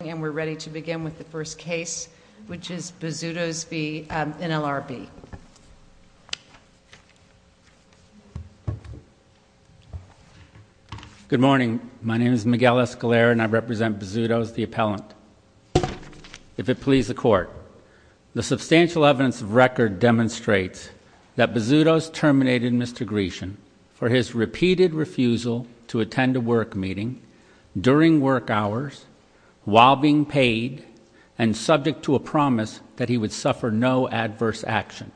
And we're ready to begin with the first case, which is Bozzuto's v. NLRB. Good morning. My name is Miguel Escalera, and I represent Bozzuto's, the appellant. If it please the Court, the substantial evidence of record demonstrates that Bozzuto's terminated Mr. Grecian for his repeated refusal to attend a work meeting, during work hours, while being paid, and subject to a promise that he would suffer no adverse action.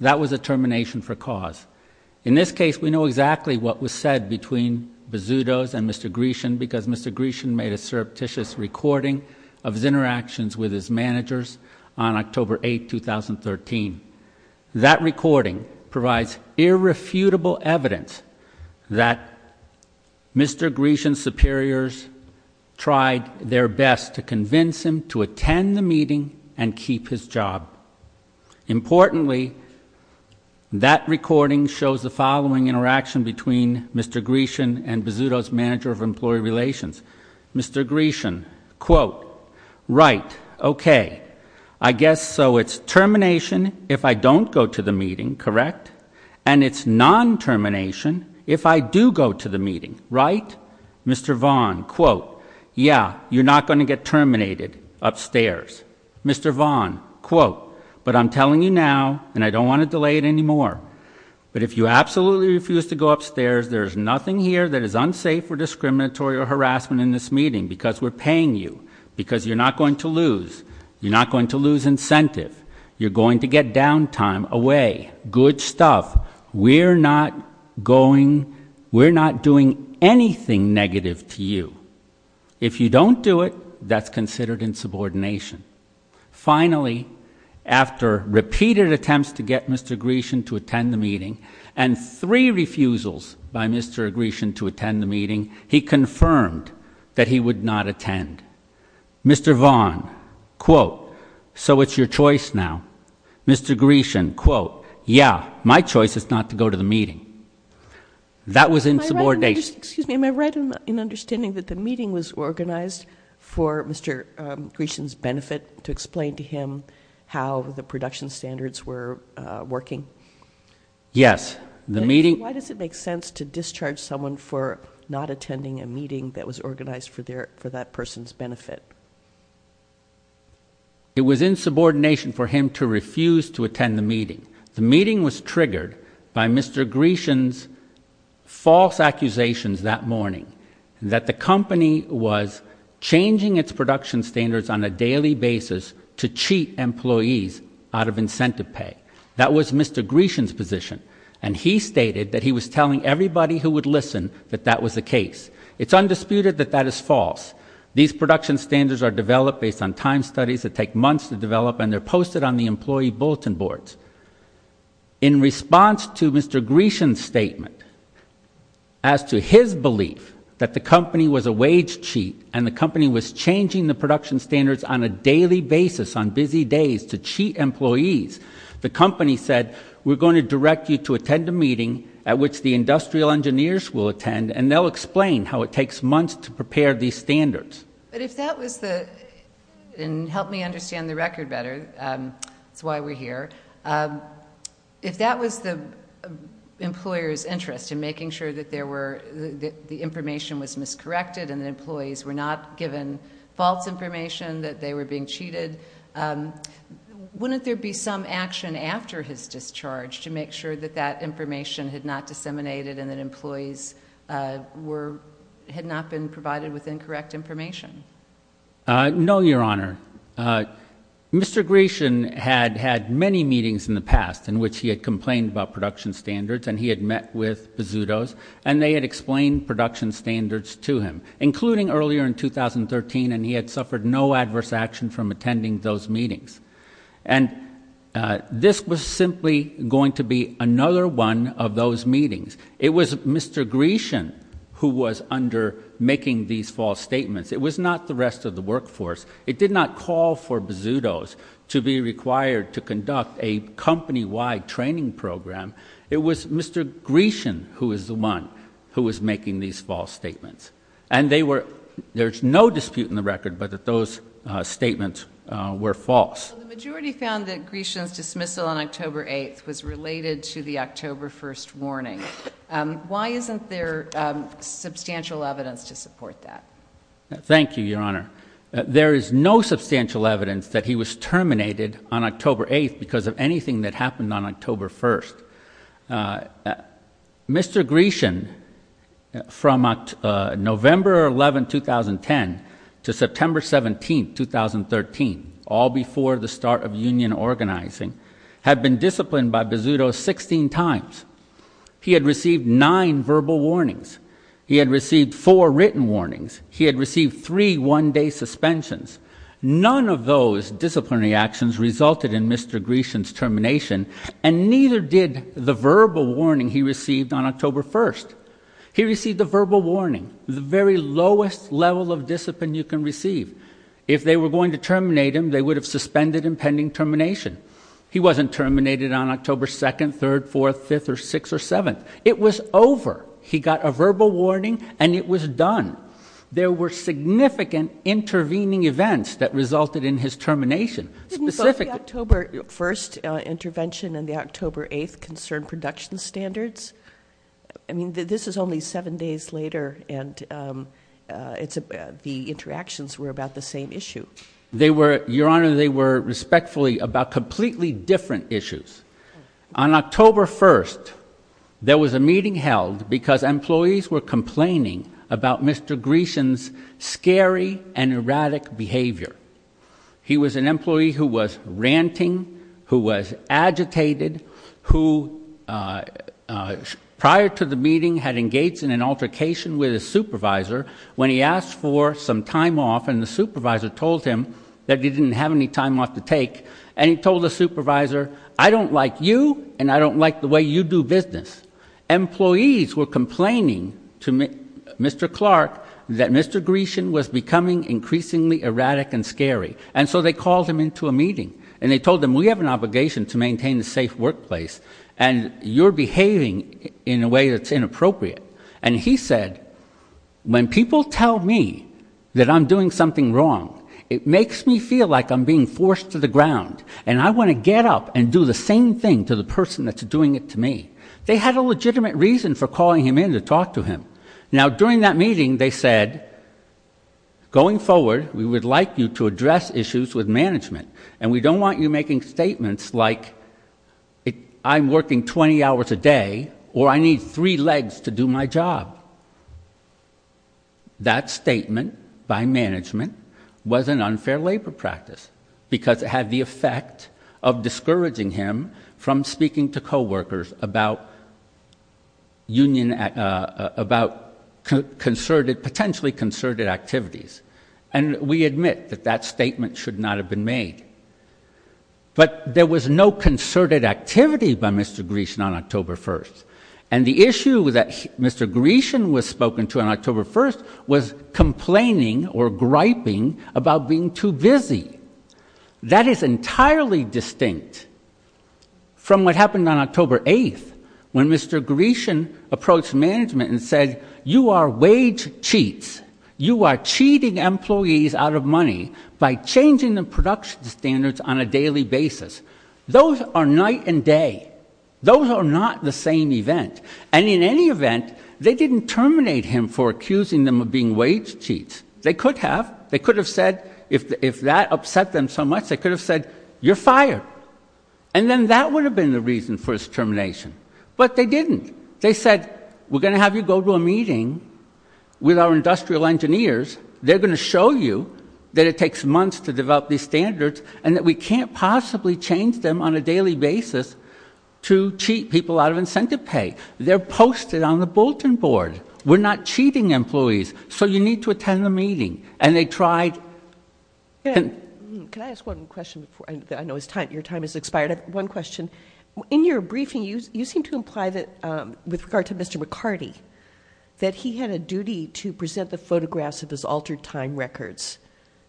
That was a termination for cause. In this case, we know exactly what was said between Bozzuto's and Mr. Grecian, because Mr. Grecian made a surreptitious recording of his interactions with his managers on October 8, 2013. That recording provides irrefutable evidence that Mr. Grecian's superiors tried their best to convince him to attend the meeting and keep his job. Importantly, that recording shows the following interaction between Mr. Grecian and Bozzuto's manager of employee relations. Mr. Grecian, quote, right, okay, I guess so it's termination if I don't go to the meeting, correct? And it's non-termination if I do go to the meeting, right? Mr. Vaughn, quote, yeah, you're not going to get terminated upstairs. Mr. Vaughn, quote, but I'm telling you now, and I don't want to delay it anymore, but if you absolutely refuse to go upstairs, there's nothing here that is unsafe or discriminatory or harassment in this meeting, because we're paying you, because you're not going to lose. You're not going to lose incentive. You're going to get downtime away. Good stuff. We're not going, we're not doing anything negative to you. If you don't do it, that's considered insubordination. Finally, after repeated attempts to get Mr. Grecian to attend the meeting, and three refusals by Mr. Grecian to attend the meeting, he confirmed that he would not attend. Mr. Vaughn, quote, so it's your choice now. Mr. Grecian, quote, yeah, my choice is not to go to the meeting. That was insubordination. Excuse me, am I right in understanding that the meeting was organized for Mr. Grecian's benefit to explain to him how the production standards were working? Yes. Why does it make sense to discharge someone for not attending a meeting that was organized for that person's benefit? It was insubordination for him to refuse to attend the meeting. The meeting was triggered by Mr. Grecian's false accusations that morning that the company was changing its production standards on a daily basis to cheat employees out of incentive pay. That was Mr. Grecian's position, and he stated that he was telling everybody who would listen that that was the case. It's undisputed that that is false. These production standards are developed based on time studies that take months to develop, and they're posted on the employee bulletin boards. In response to Mr. Grecian's statement as to his belief that the company was a wage cheat and the company was changing the production standards on a daily basis on busy days to cheat employees, the company said, we're going to direct you to attend a meeting at which the industrial engineers will attend, and they'll explain how it takes months to prepare these standards. But if that was the, and help me understand the record better, that's why we're here, if that was the employer's interest in making sure that the information was miscorrected and the employees were not given false information that they were being cheated, wouldn't there be some action after his discharge to make sure that that information had not disseminated and that employees were, had not been provided with incorrect information? No, Your Honor. Mr. Grecian had had many meetings in the past in which he had complained about production standards, and he had met with Bizzuto's, and they had explained production standards to him, including earlier in 2013, and he had suffered no adverse action from attending those meetings. And this was simply going to be another one of those meetings. It was Mr. Grecian who was under making these false statements. It was not the rest of the workforce. It did not call for Bizzuto's to be required to conduct a company-wide training program. It was Mr. Grecian who was the one who was making these false statements. And they were, there's no dispute in the record but that those statements were false. The majority found that Grecian's dismissal on October 8th was related to the October 1st warning. Why isn't there substantial evidence to support that? Thank you, Your Honor. There is no substantial evidence that he was terminated on October 8th because of anything that happened on October 1st. Mr. Grecian, from November 11, 2010 to September 17, 2013, all before the start of union organizing, had been disciplined by Bizzuto 16 times. He had received nine verbal warnings. He had received four written warnings. He had received three one-day suspensions. None of those disciplinary actions resulted in Mr. Grecian's termination, and neither did the verbal warning he received on October 1st. He received a verbal warning, the very lowest level of discipline you can receive. If they were going to terminate him, they would have suspended him pending termination. He wasn't terminated on October 2nd, 3rd, 4th, 5th, or 6th, or 7th. It was over. He got a verbal warning and it was done. There were significant intervening events that resulted in his termination. Didn't both the October 1st intervention and the October 8th concern production standards? I mean, this is only seven days later, and the interactions were about the same issue. Your Honor, they were respectfully about completely different issues. On October 1st, there was a meeting held because employees were complaining about Mr. Grecian's scary and erratic behavior. He was an employee who was ranting, who was agitated, who prior to the meeting had engaged in an altercation with his supervisor when he asked for some time off and the supervisor told him that he didn't have any time off to take, and he told the supervisor, I don't like you and I don't like the way you do business. Employees were complaining to Mr. Clark that Mr. Grecian was becoming increasingly erratic and scary, and so they called him into a meeting, and they told him, we have an obligation to maintain a safe workplace, and you're behaving in a way that's inappropriate. And he said, when people tell me that I'm doing something wrong, it makes me feel like I'm being forced to the ground, and I want to get up and do the same thing to the person that's doing it to me. They had a legitimate reason for calling him in to talk to him. Now, during that meeting, they said, going forward, we would like you to address issues with management, and we don't want you making statements like, I'm working 20 hours a day or I need three legs to do my job. That statement by management was an unfair labor practice because it had the effect of discouraging him from speaking to coworkers about potentially concerted activities, and we admit that that statement should not have been made. But there was no concerted activity by Mr. Grecian on October 1st, and the issue that Mr. Grecian was spoken to on October 1st was complaining or griping about being too busy. That is entirely distinct from what happened on October 8th, when Mr. Grecian approached management and said, you are wage cheats. You are cheating employees out of money by changing the production standards on a daily basis. Those are night and day. Those are not the same event. And in any event, they didn't terminate him for accusing them of being wage cheats. They could have. They could have said, if that upset them so much, they could have said, you're fired. And then that would have been the reason for his termination. But they didn't. They said, we're going to have you go to a meeting with our industrial engineers. They're going to show you that it takes months to develop these standards and that we can't possibly change them on a daily basis to cheat people out of incentive pay. They're posted on the bulletin board. We're not cheating employees, so you need to attend the meeting. And they tried... Can I ask one question? I know your time has expired. One question. In your briefing, you seem to imply that, with regard to Mr. McCarty, that he had a duty to present the photographs of his altered time records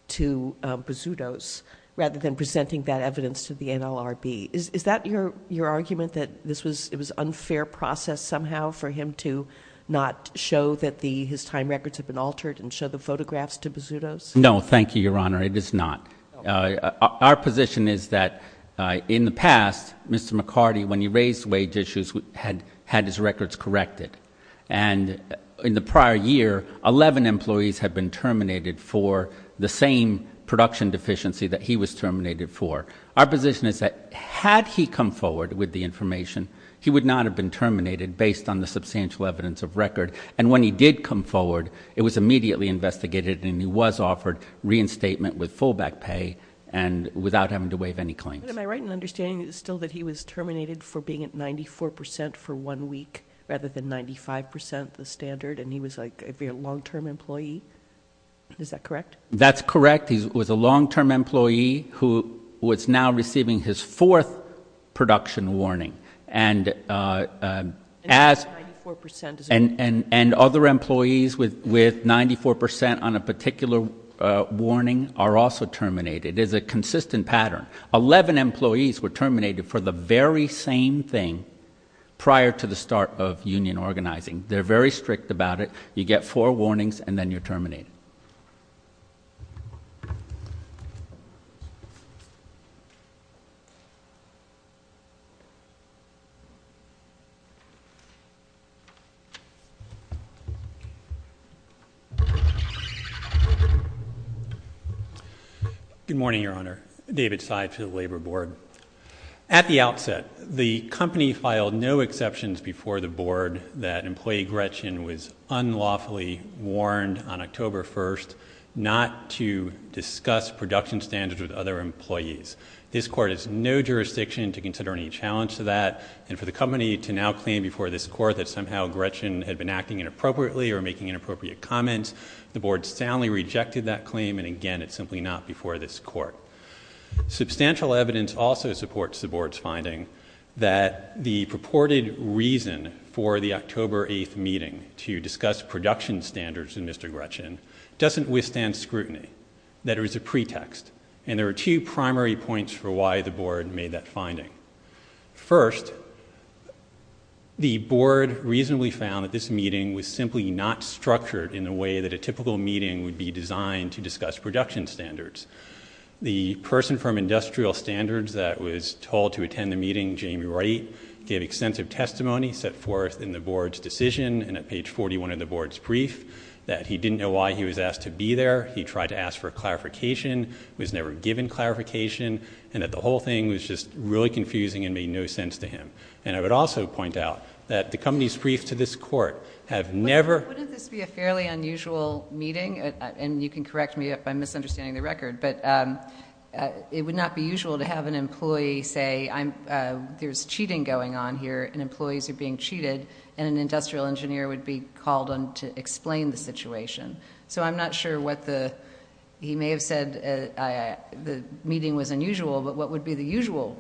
to Bazutos, rather than presenting that evidence to the NLRB. Is that your argument, that it was an unfair process somehow for him to not show that his time records had been altered and show the photographs to Bazutos? No, thank you, Your Honor. It is not. Our position is that, in the past, Mr. McCarty, when he raised wage issues, had his records corrected. And in the prior year, 11 employees had been terminated for the same production deficiency that he was terminated for. Our position is that, had he come forward with the information, he would not have been terminated, based on the substantial evidence of record. And when he did come forward, it was immediately investigated, and he was offered reinstatement with full back pay, without having to waive any claims. Am I right in understanding still that he was terminated for being at 94% for one week, rather than 95% the standard? And he was a long-term employee? Is that correct? That's correct. He was a long-term employee who was now receiving his 4th production warning. And other employees with 94% on a particular warning are also terminated. It is a consistent pattern. 11 employees were terminated for the very same thing prior to the start of union organizing. They're very strict about it. You get 4 warnings, and then you're terminated. Thank you. Good morning, Your Honor. David Seid to the Labor Board. At the outset, the company filed no exceptions before the Board that employee Gretchen was unlawfully warned on October 1st not to discuss production standards with other employees. This Court has no jurisdiction to consider any challenge to that, and for the company to now claim before this Court that somehow Gretchen had been acting inappropriately or making inappropriate comments, the Board soundly rejected that claim, and again, it's simply not before this Court. Substantial evidence also supports the Board's finding that the purported reason for the October 8th meeting to discuss production standards with Mr. Gretchen doesn't withstand scrutiny, that it was a pretext, and there are two primary points for why the Board made that finding. First, the Board reasonably found that this meeting was simply not structured in the way that a typical meeting would be designed to discuss production standards. The person from Industrial Standards that was told to attend the meeting, Jamie Wright, gave extensive testimony set forth in the Board's decision and at page 41 of the Board's brief that he didn't know why he was asked to be there, he tried to ask for clarification, was never given clarification, and that the whole thing was just really confusing and made no sense to him. And I would also point out that the company's brief to this Court have never... Wouldn't this be a fairly unusual meeting? And you can correct me if I'm misunderstanding the record, but it would not be usual to have an employee say there's cheating going on here and employees are being cheated and an industrial engineer would be called on to explain the situation. So I'm not sure what the... He may have said the meeting was unusual, but what would be the usual...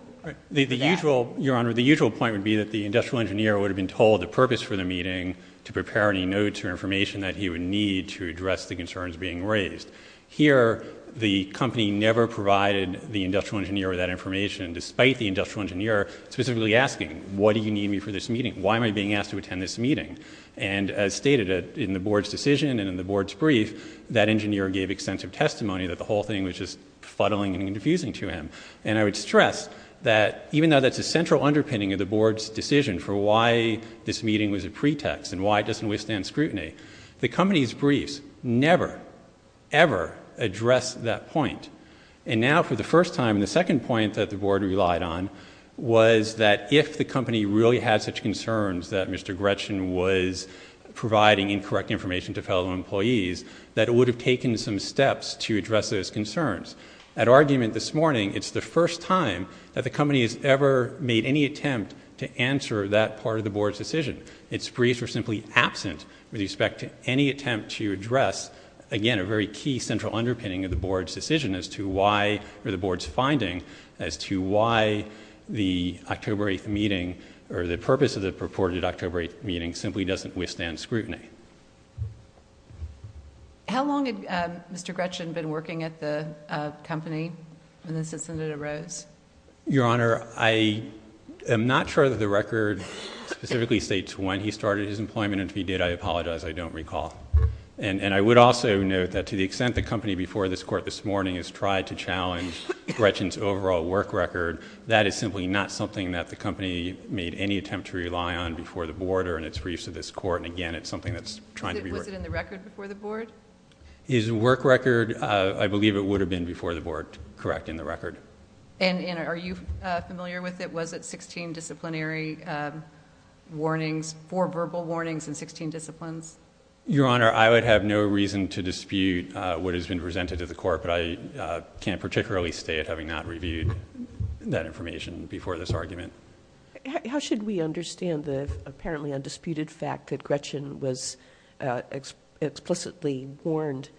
Your Honour, the usual point would be that the industrial engineer would have been told the purpose for the meeting to prepare any notes or information that he would need to address the concerns being raised. Here, the company never provided the industrial engineer with that information despite the industrial engineer specifically asking, what do you need me for this meeting? Why am I being asked to attend this meeting? And as stated in the Board's decision and in the Board's brief, that engineer gave extensive testimony that the whole thing was just fuddling and confusing to him. And I would stress that even though that's a central underpinning of the Board's decision for why this meeting was a pretext and why it doesn't withstand scrutiny, the company's briefs never, ever address that point. And now for the first time, the second point that the Board relied on was that if the company really had such concerns that Mr. Gretchen was providing incorrect information to fellow employees, that it would have taken some steps to address those concerns. At argument this morning, it's the first time that the company has ever made any attempt to answer that part of the Board's decision. Its briefs were simply absent with respect to any attempt to address, again, a very key central underpinning of the Board's decision as to why, or the Board's finding, as to why the October 8th meeting or the purpose of the purported October 8th meeting simply doesn't withstand scrutiny. How long had Mr. Gretchen been working at the company when this incident arose? Your Honor, I am not sure that the record specifically states when he started his employment and if he did, I apologize, I don't recall. And I would also note that to the extent the company before this Court this morning has tried to challenge Gretchen's overall work record, that is simply not something that the company made any attempt to rely on before the Board or in its briefs to this Court. Was it in the record before the Board? His work record, I believe it would have been before the Board, correct, in the record. And are you familiar with it, was it 16 disciplinary warnings, four verbal warnings in 16 disciplines? Your Honor, I would have no reason to dispute what has been presented to the Court, but I can't particularly state having not reviewed that information before this argument. How should we understand the apparently undisputed fact that Gretchen was explicitly warned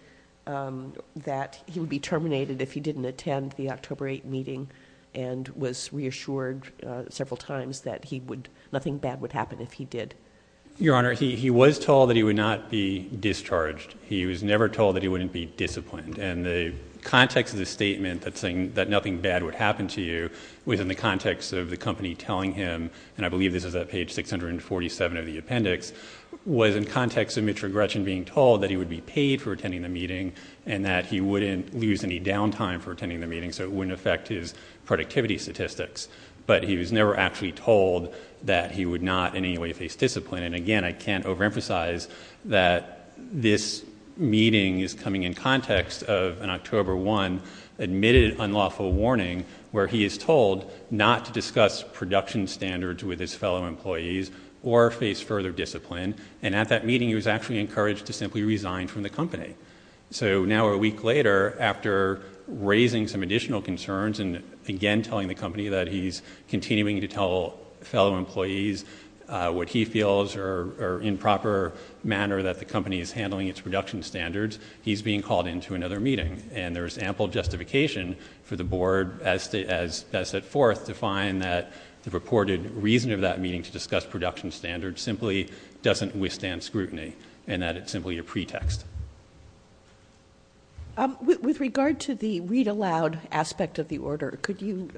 that he would be terminated if he didn't attend the October 8th meeting and was reassured several times that nothing bad would happen if he did? Your Honor, he was told that he would not be discharged. He was never told that he wouldn't be disciplined. And the context of the statement that nothing bad would happen to you was in the context of the company telling him, and I believe this is at page 647 of the appendix, was in context of Mitchell Gretchen being told that he would be paid for attending the meeting and that he wouldn't lose any downtime for attending the meeting so it wouldn't affect his productivity statistics. But he was never actually told that he would not in any way face discipline. And again, I can't overemphasize that this meeting is coming in context of an October 1 admitted unlawful warning where he is told not to discuss production standards with his fellow employees or face further discipline. And at that meeting, he was actually encouraged to simply resign from the company. So now a week later, after raising some additional concerns and again telling the company that he's continuing to tell fellow employees what he feels are improper manner that the company is handling its production standards, he's being called into another meeting. And there is ample justification for the board as set forth to find that the reported reason of that meeting to discuss production standards simply doesn't withstand scrutiny and that it's simply a pretext. With regard to the read aloud aspect of the order, could you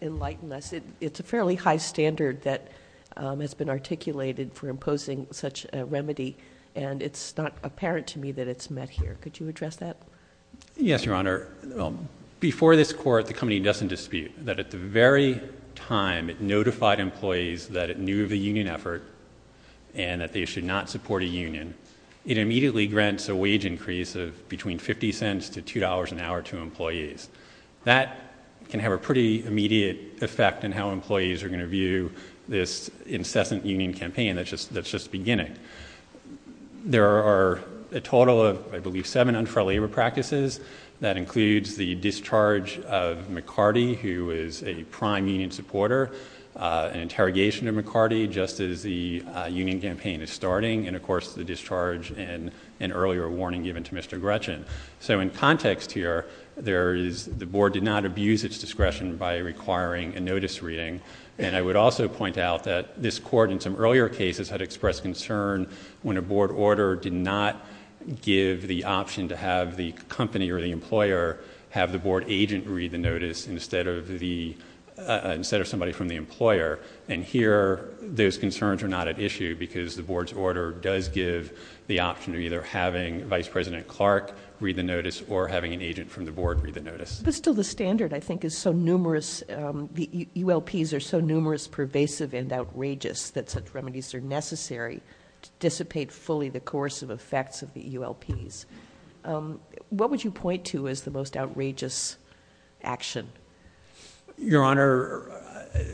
enlighten us? It's a fairly high standard that has been articulated for imposing such a remedy, and it's not apparent to me that it's met here. Could you address that? Yes, Your Honor. Before this court, the company does some dispute that at the very time it notified employees that it knew of a union effort and that they should not support a union, it immediately grants a wage increase of between $0.50 to $2 an hour to employees. That can have a pretty immediate effect in how employees are going to view this incessant union campaign that's just beginning. There are a total of, I believe, seven unfriendly practices. That includes the discharge of McCarty, who is a prime union supporter, an interrogation of McCarty just as the union campaign is starting, and of course the discharge and an earlier warning given to Mr. Gretchen. So in context here, the board did not abuse its discretion by requiring a notice reading, and I would also point out that this court in some earlier cases had expressed concern when a board order did not give the option to have the company or the employer have the board agent read the notice instead of somebody from the employer, and here those concerns are not at issue because the board's order does give the option of either having Vice President Clark read the notice or having an agent from the board read the notice. But still the standard, I think, is so numerous, the ULPs are so numerous, pervasive and outrageous that such remedies are necessary to dissipate fully the coercive effects of the ULPs. What would you point to as the most outrageous action? Your Honor,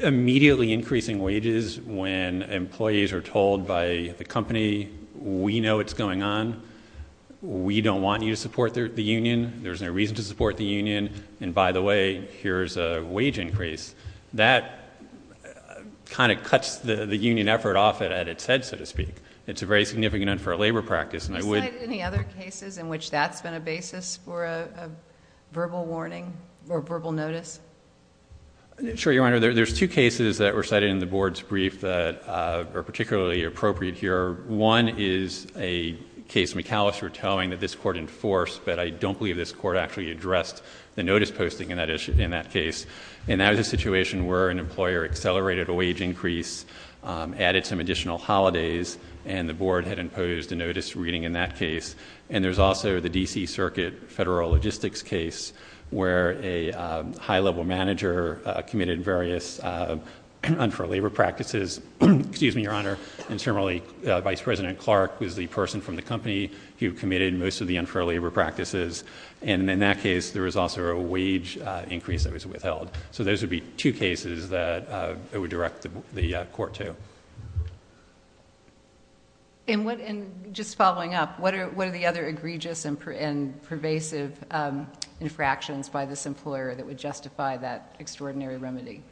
immediately increasing wages when employees are told by the company, we know what's going on, we don't want you to support the union, there's no reason to support the union, and by the way, here's a wage increase. That kind of cuts the union effort off at its head, so to speak. It's very significant for a labor practice. Have you cited any other cases in which that's been a basis for a verbal warning or verbal notice? Sure, Your Honor. There's two cases that were cited in the board's brief that are particularly appropriate here. One is a case McAllister was telling that this court enforced, but I don't believe this court actually addressed the notice posting in that case. And that was a situation where an employer accelerated a wage increase, added some additional holidays, and the board had imposed a notice reading in that case. And there's also the D.C. Circuit federal logistics case where a high-level manager committed various unfair labor practices. And similarly, Vice President Clark was the person from the company who committed most of the unfair labor practices. And in that case, there was also a wage increase that was withheld. So those would be two cases that I would direct the court to. And just following up, what are the other egregious and pervasive infractions by this employer that would justify that extraordinary remedy?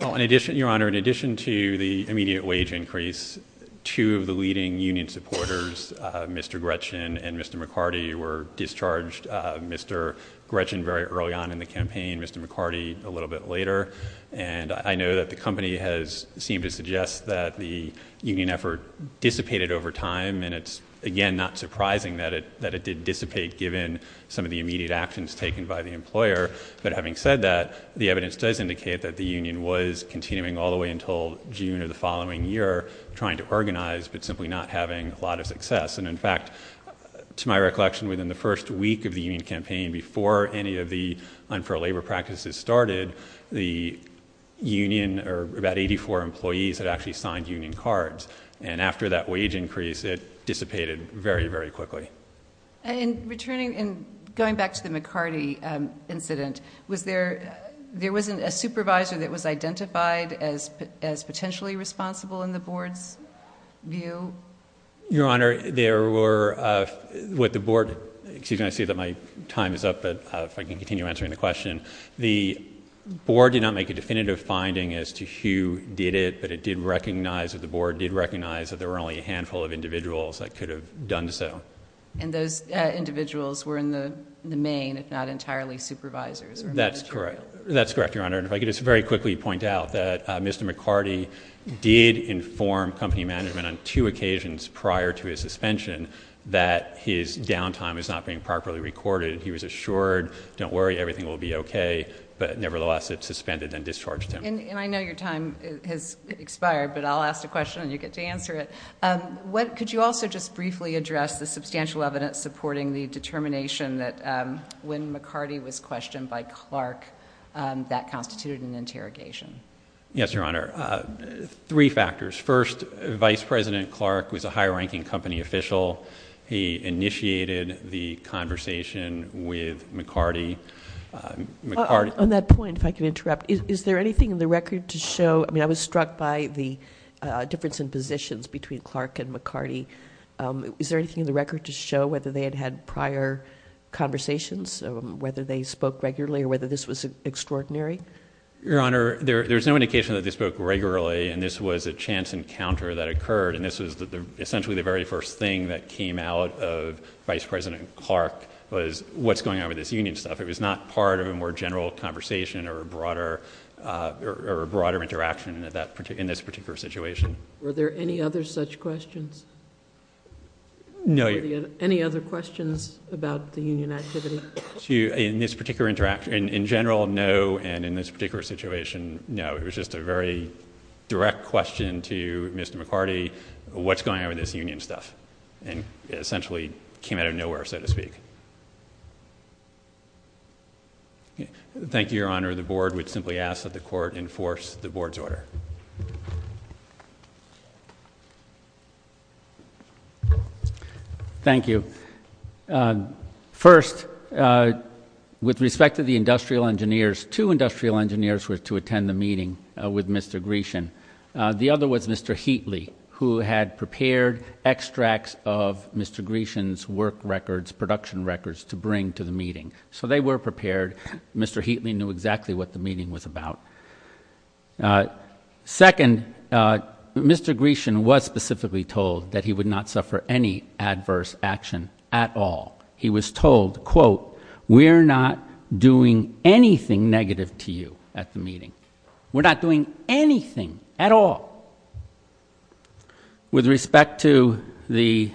Well, Your Honor, in addition to the immediate wage increase, two of the leading union supporters, Mr. Gretchen and Mr. McCarty, were discharged Mr. Gretchen very early on in the campaign, Mr. McCarty a little bit later. And I know that the company has seemed to suggest that the union effort dissipated over time. And it's, again, not surprising that it did dissipate given some of the immediate actions taken by the employer. But having said that, the evidence does indicate that the union was continuing all the way until June of the following year, trying to organize but simply not having a lot of success. And in fact, to my recollection, within the first week of the union campaign before any of the unfair labor practices started, the union, or about 84 employees, had actually signed union cards. And after that wage increase, it dissipated very, very quickly. And going back to the McCarty incident, was there a supervisor that was identified as potentially responsible in the board's view? Your Honor, there were... Excuse me, I see that my time is up, but if I can continue answering the question. The board did not make a definitive finding as to who did it, but the board did recognize that there were only a handful of individuals that could have done so. And those individuals were in the main, if not entirely, supervisors. That's correct, Your Honor. And if I could just very quickly point out that Mr. McCarty did inform company management on two occasions prior to his suspension that his downtime was not being properly recorded. He was assured, don't worry, everything will be okay, And I know your time has expired, but I'll ask the question and you get to answer it. Could you also just briefly address the substantial evidence supporting the determination that when McCarty was questioned by Clark, that constituted an interrogation? Yes, Your Honor. Three factors. First, Vice President Clark was a high-ranking company official. He initiated the conversation with McCarty. On that point, if I can interrupt, is there anything in the record to show, I mean I was struck by the difference in positions between Clark and McCarty, is there anything in the record to show whether they had had prior conversations, whether they spoke regularly or whether this was extraordinary? Your Honor, there's no indication that they spoke regularly and this was a chance encounter that occurred and this was essentially the very first thing that came out of Vice President Clark was what's going on with this union stuff. It was not part of a more general conversation or a broader interaction in this particular situation. Were there any other such questions? No. Any other questions about the union activity? In general, no. And in this particular situation, no. It was just a very direct question to Mr. McCarty, what's going on with this union stuff? It essentially came out of nowhere, so to speak. Thank you, Your Honor. The Board would simply ask that the Court enforce the Board's order. Thank you. First, with respect to the industrial engineers, two industrial engineers were to attend the meeting with Mr. Grecian. The other was Mr. Heatley, who had prepared extracts of Mr. Grecian's work records, production records, to bring to the meeting. So they were prepared. Mr. Heatley knew exactly what the meeting was about. Second, Mr. Grecian was specifically told that he would not suffer any adverse action at all. He was told, quote, we're not doing anything negative to you at the meeting. We're not doing anything at all. With respect to the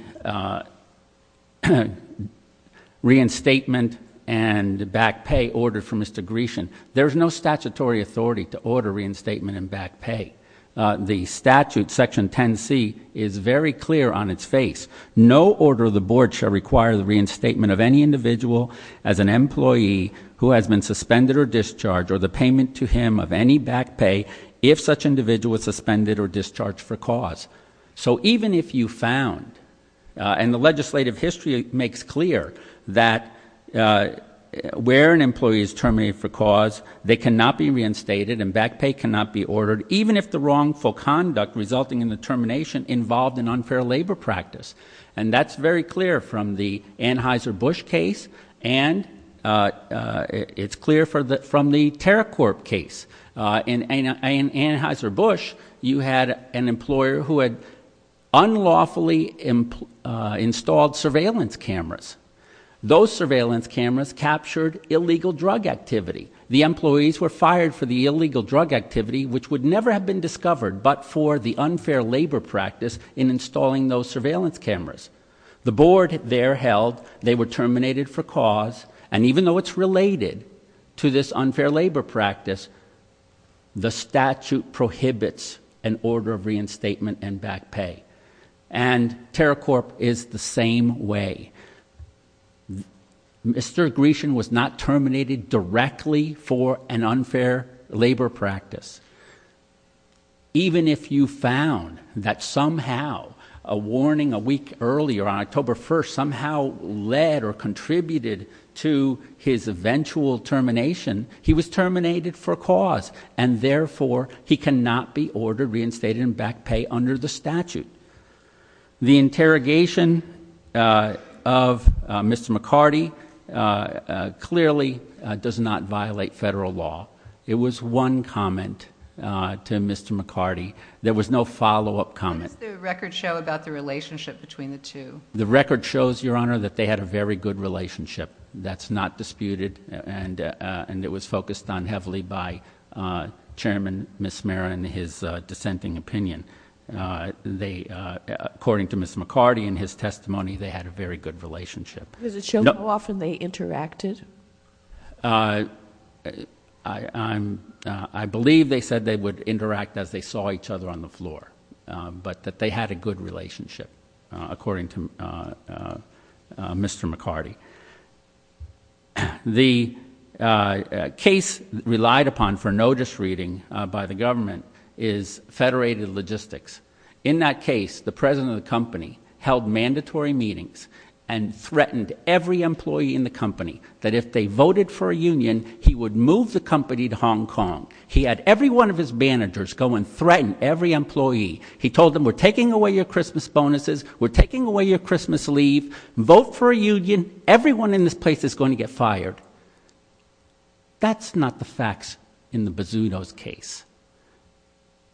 reinstatement and back pay order for Mr. Grecian, there's no statutory authority to order reinstatement and back pay. The statute, Section 10C, is very clear on its face. No order of the Board shall require the reinstatement of any individual as an employee who has been suspended or discharged or the payment to him of any back pay if such individual is suspended or discharged for cause. So even if you found, and the legislative history makes clear that where an employee is terminated for cause, they cannot be reinstated and back pay cannot be ordered, even if the wrongful conduct resulting in the termination involved an unfair labor practice. And that's very clear from the Anheuser-Busch case and it's clear from the Anheuser-Busch, you had an employer who had unlawfully installed surveillance cameras. Those surveillance cameras captured illegal drug activity. The employees were fired for the illegal drug activity, which would never have been discovered, but for the unfair labor practice in installing those surveillance cameras. The Board there held they were terminated for cause and even though it's related to this unfair labor practice, the statute prohibits an order of reinstatement and back pay. And Terracorp is the same way. Mr. Grecian was not terminated directly for an unfair labor practice. Even if you found that somehow a warning a week earlier, on October 1st, somehow led or contributed to his eventual termination, he was terminated for cause and therefore he cannot be ordered reinstated and back pay under the statute. The interrogation of Mr. McCarty clearly does not violate federal law. It was one comment to Mr. McCarty. There was no follow-up comment. What does the record show about the relationship between the two? The record shows, Your Honor, that they had a very good relationship. That's not disputed and it was focused on heavily by Chairman Mismera and his dissenting opinion. According to Ms. McCarty and his testimony, they had a very good relationship. Does it show how often they interacted? I believe they said they would interact as they saw each other on the floor, but that they had a good relationship, according to Mr. McCarty. The case relied upon for notice reading by the government is Federated Logistics. In that case, the president of the company held mandatory meetings and threatened every employee in the company that if they voted for a union, he would move the company to Hong Kong. He had every one of his managers go and threaten every employee. He told them, We're taking away your Christmas bonuses. We're taking away your Christmas leave. Vote for a union. Everyone in this place is going to get fired. That's not the facts in the Bazzuto's case.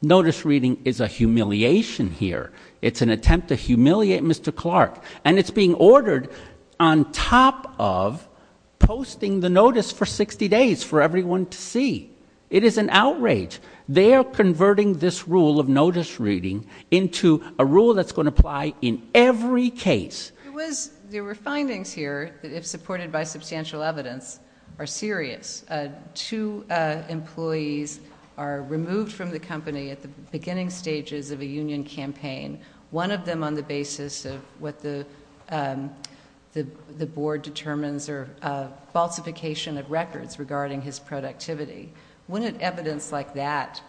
Notice reading is a humiliation here. It's an attempt to humiliate Mr. Clark, and it's being ordered on top of posting the notice for 60 days for everyone to see. It is an outrage. They are converting this rule of notice reading into a rule that's going to apply in every case. There were findings here that, if supported by substantial evidence, are serious. Two employees are removed from the company at the beginning stages of a union campaign, one of them on the basis of what the board determines are falsification of records regarding his productivity. Wouldn't evidence like that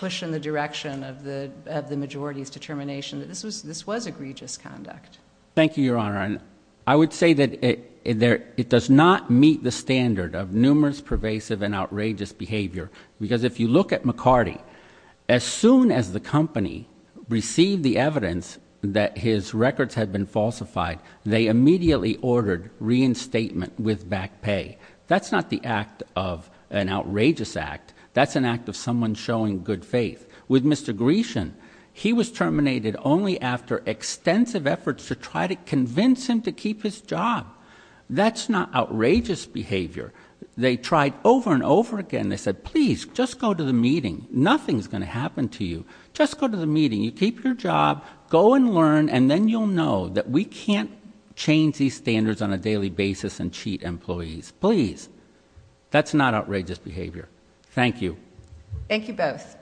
push in the direction of the majority's determination that this was egregious conduct? Thank you, Your Honor. I would say that it does not meet the standard of numerous pervasive and outrageous behavior, because if you look at McCarty, as soon as the company received the evidence that his record was falsified, he was ordered reinstatement with back pay. That's not the act of an outrageous act. That's an act of someone showing good faith. With Mr. Grecian, he was terminated only after extensive efforts to try to convince him to keep his job. That's not outrageous behavior. They tried over and over again. They said, please, just go to the meeting. Nothing's going to to happen if you don't do it. Those are the standards on a daily basis and cheat employees. Please, that's not outrageous behavior. Thank you. Thank you both.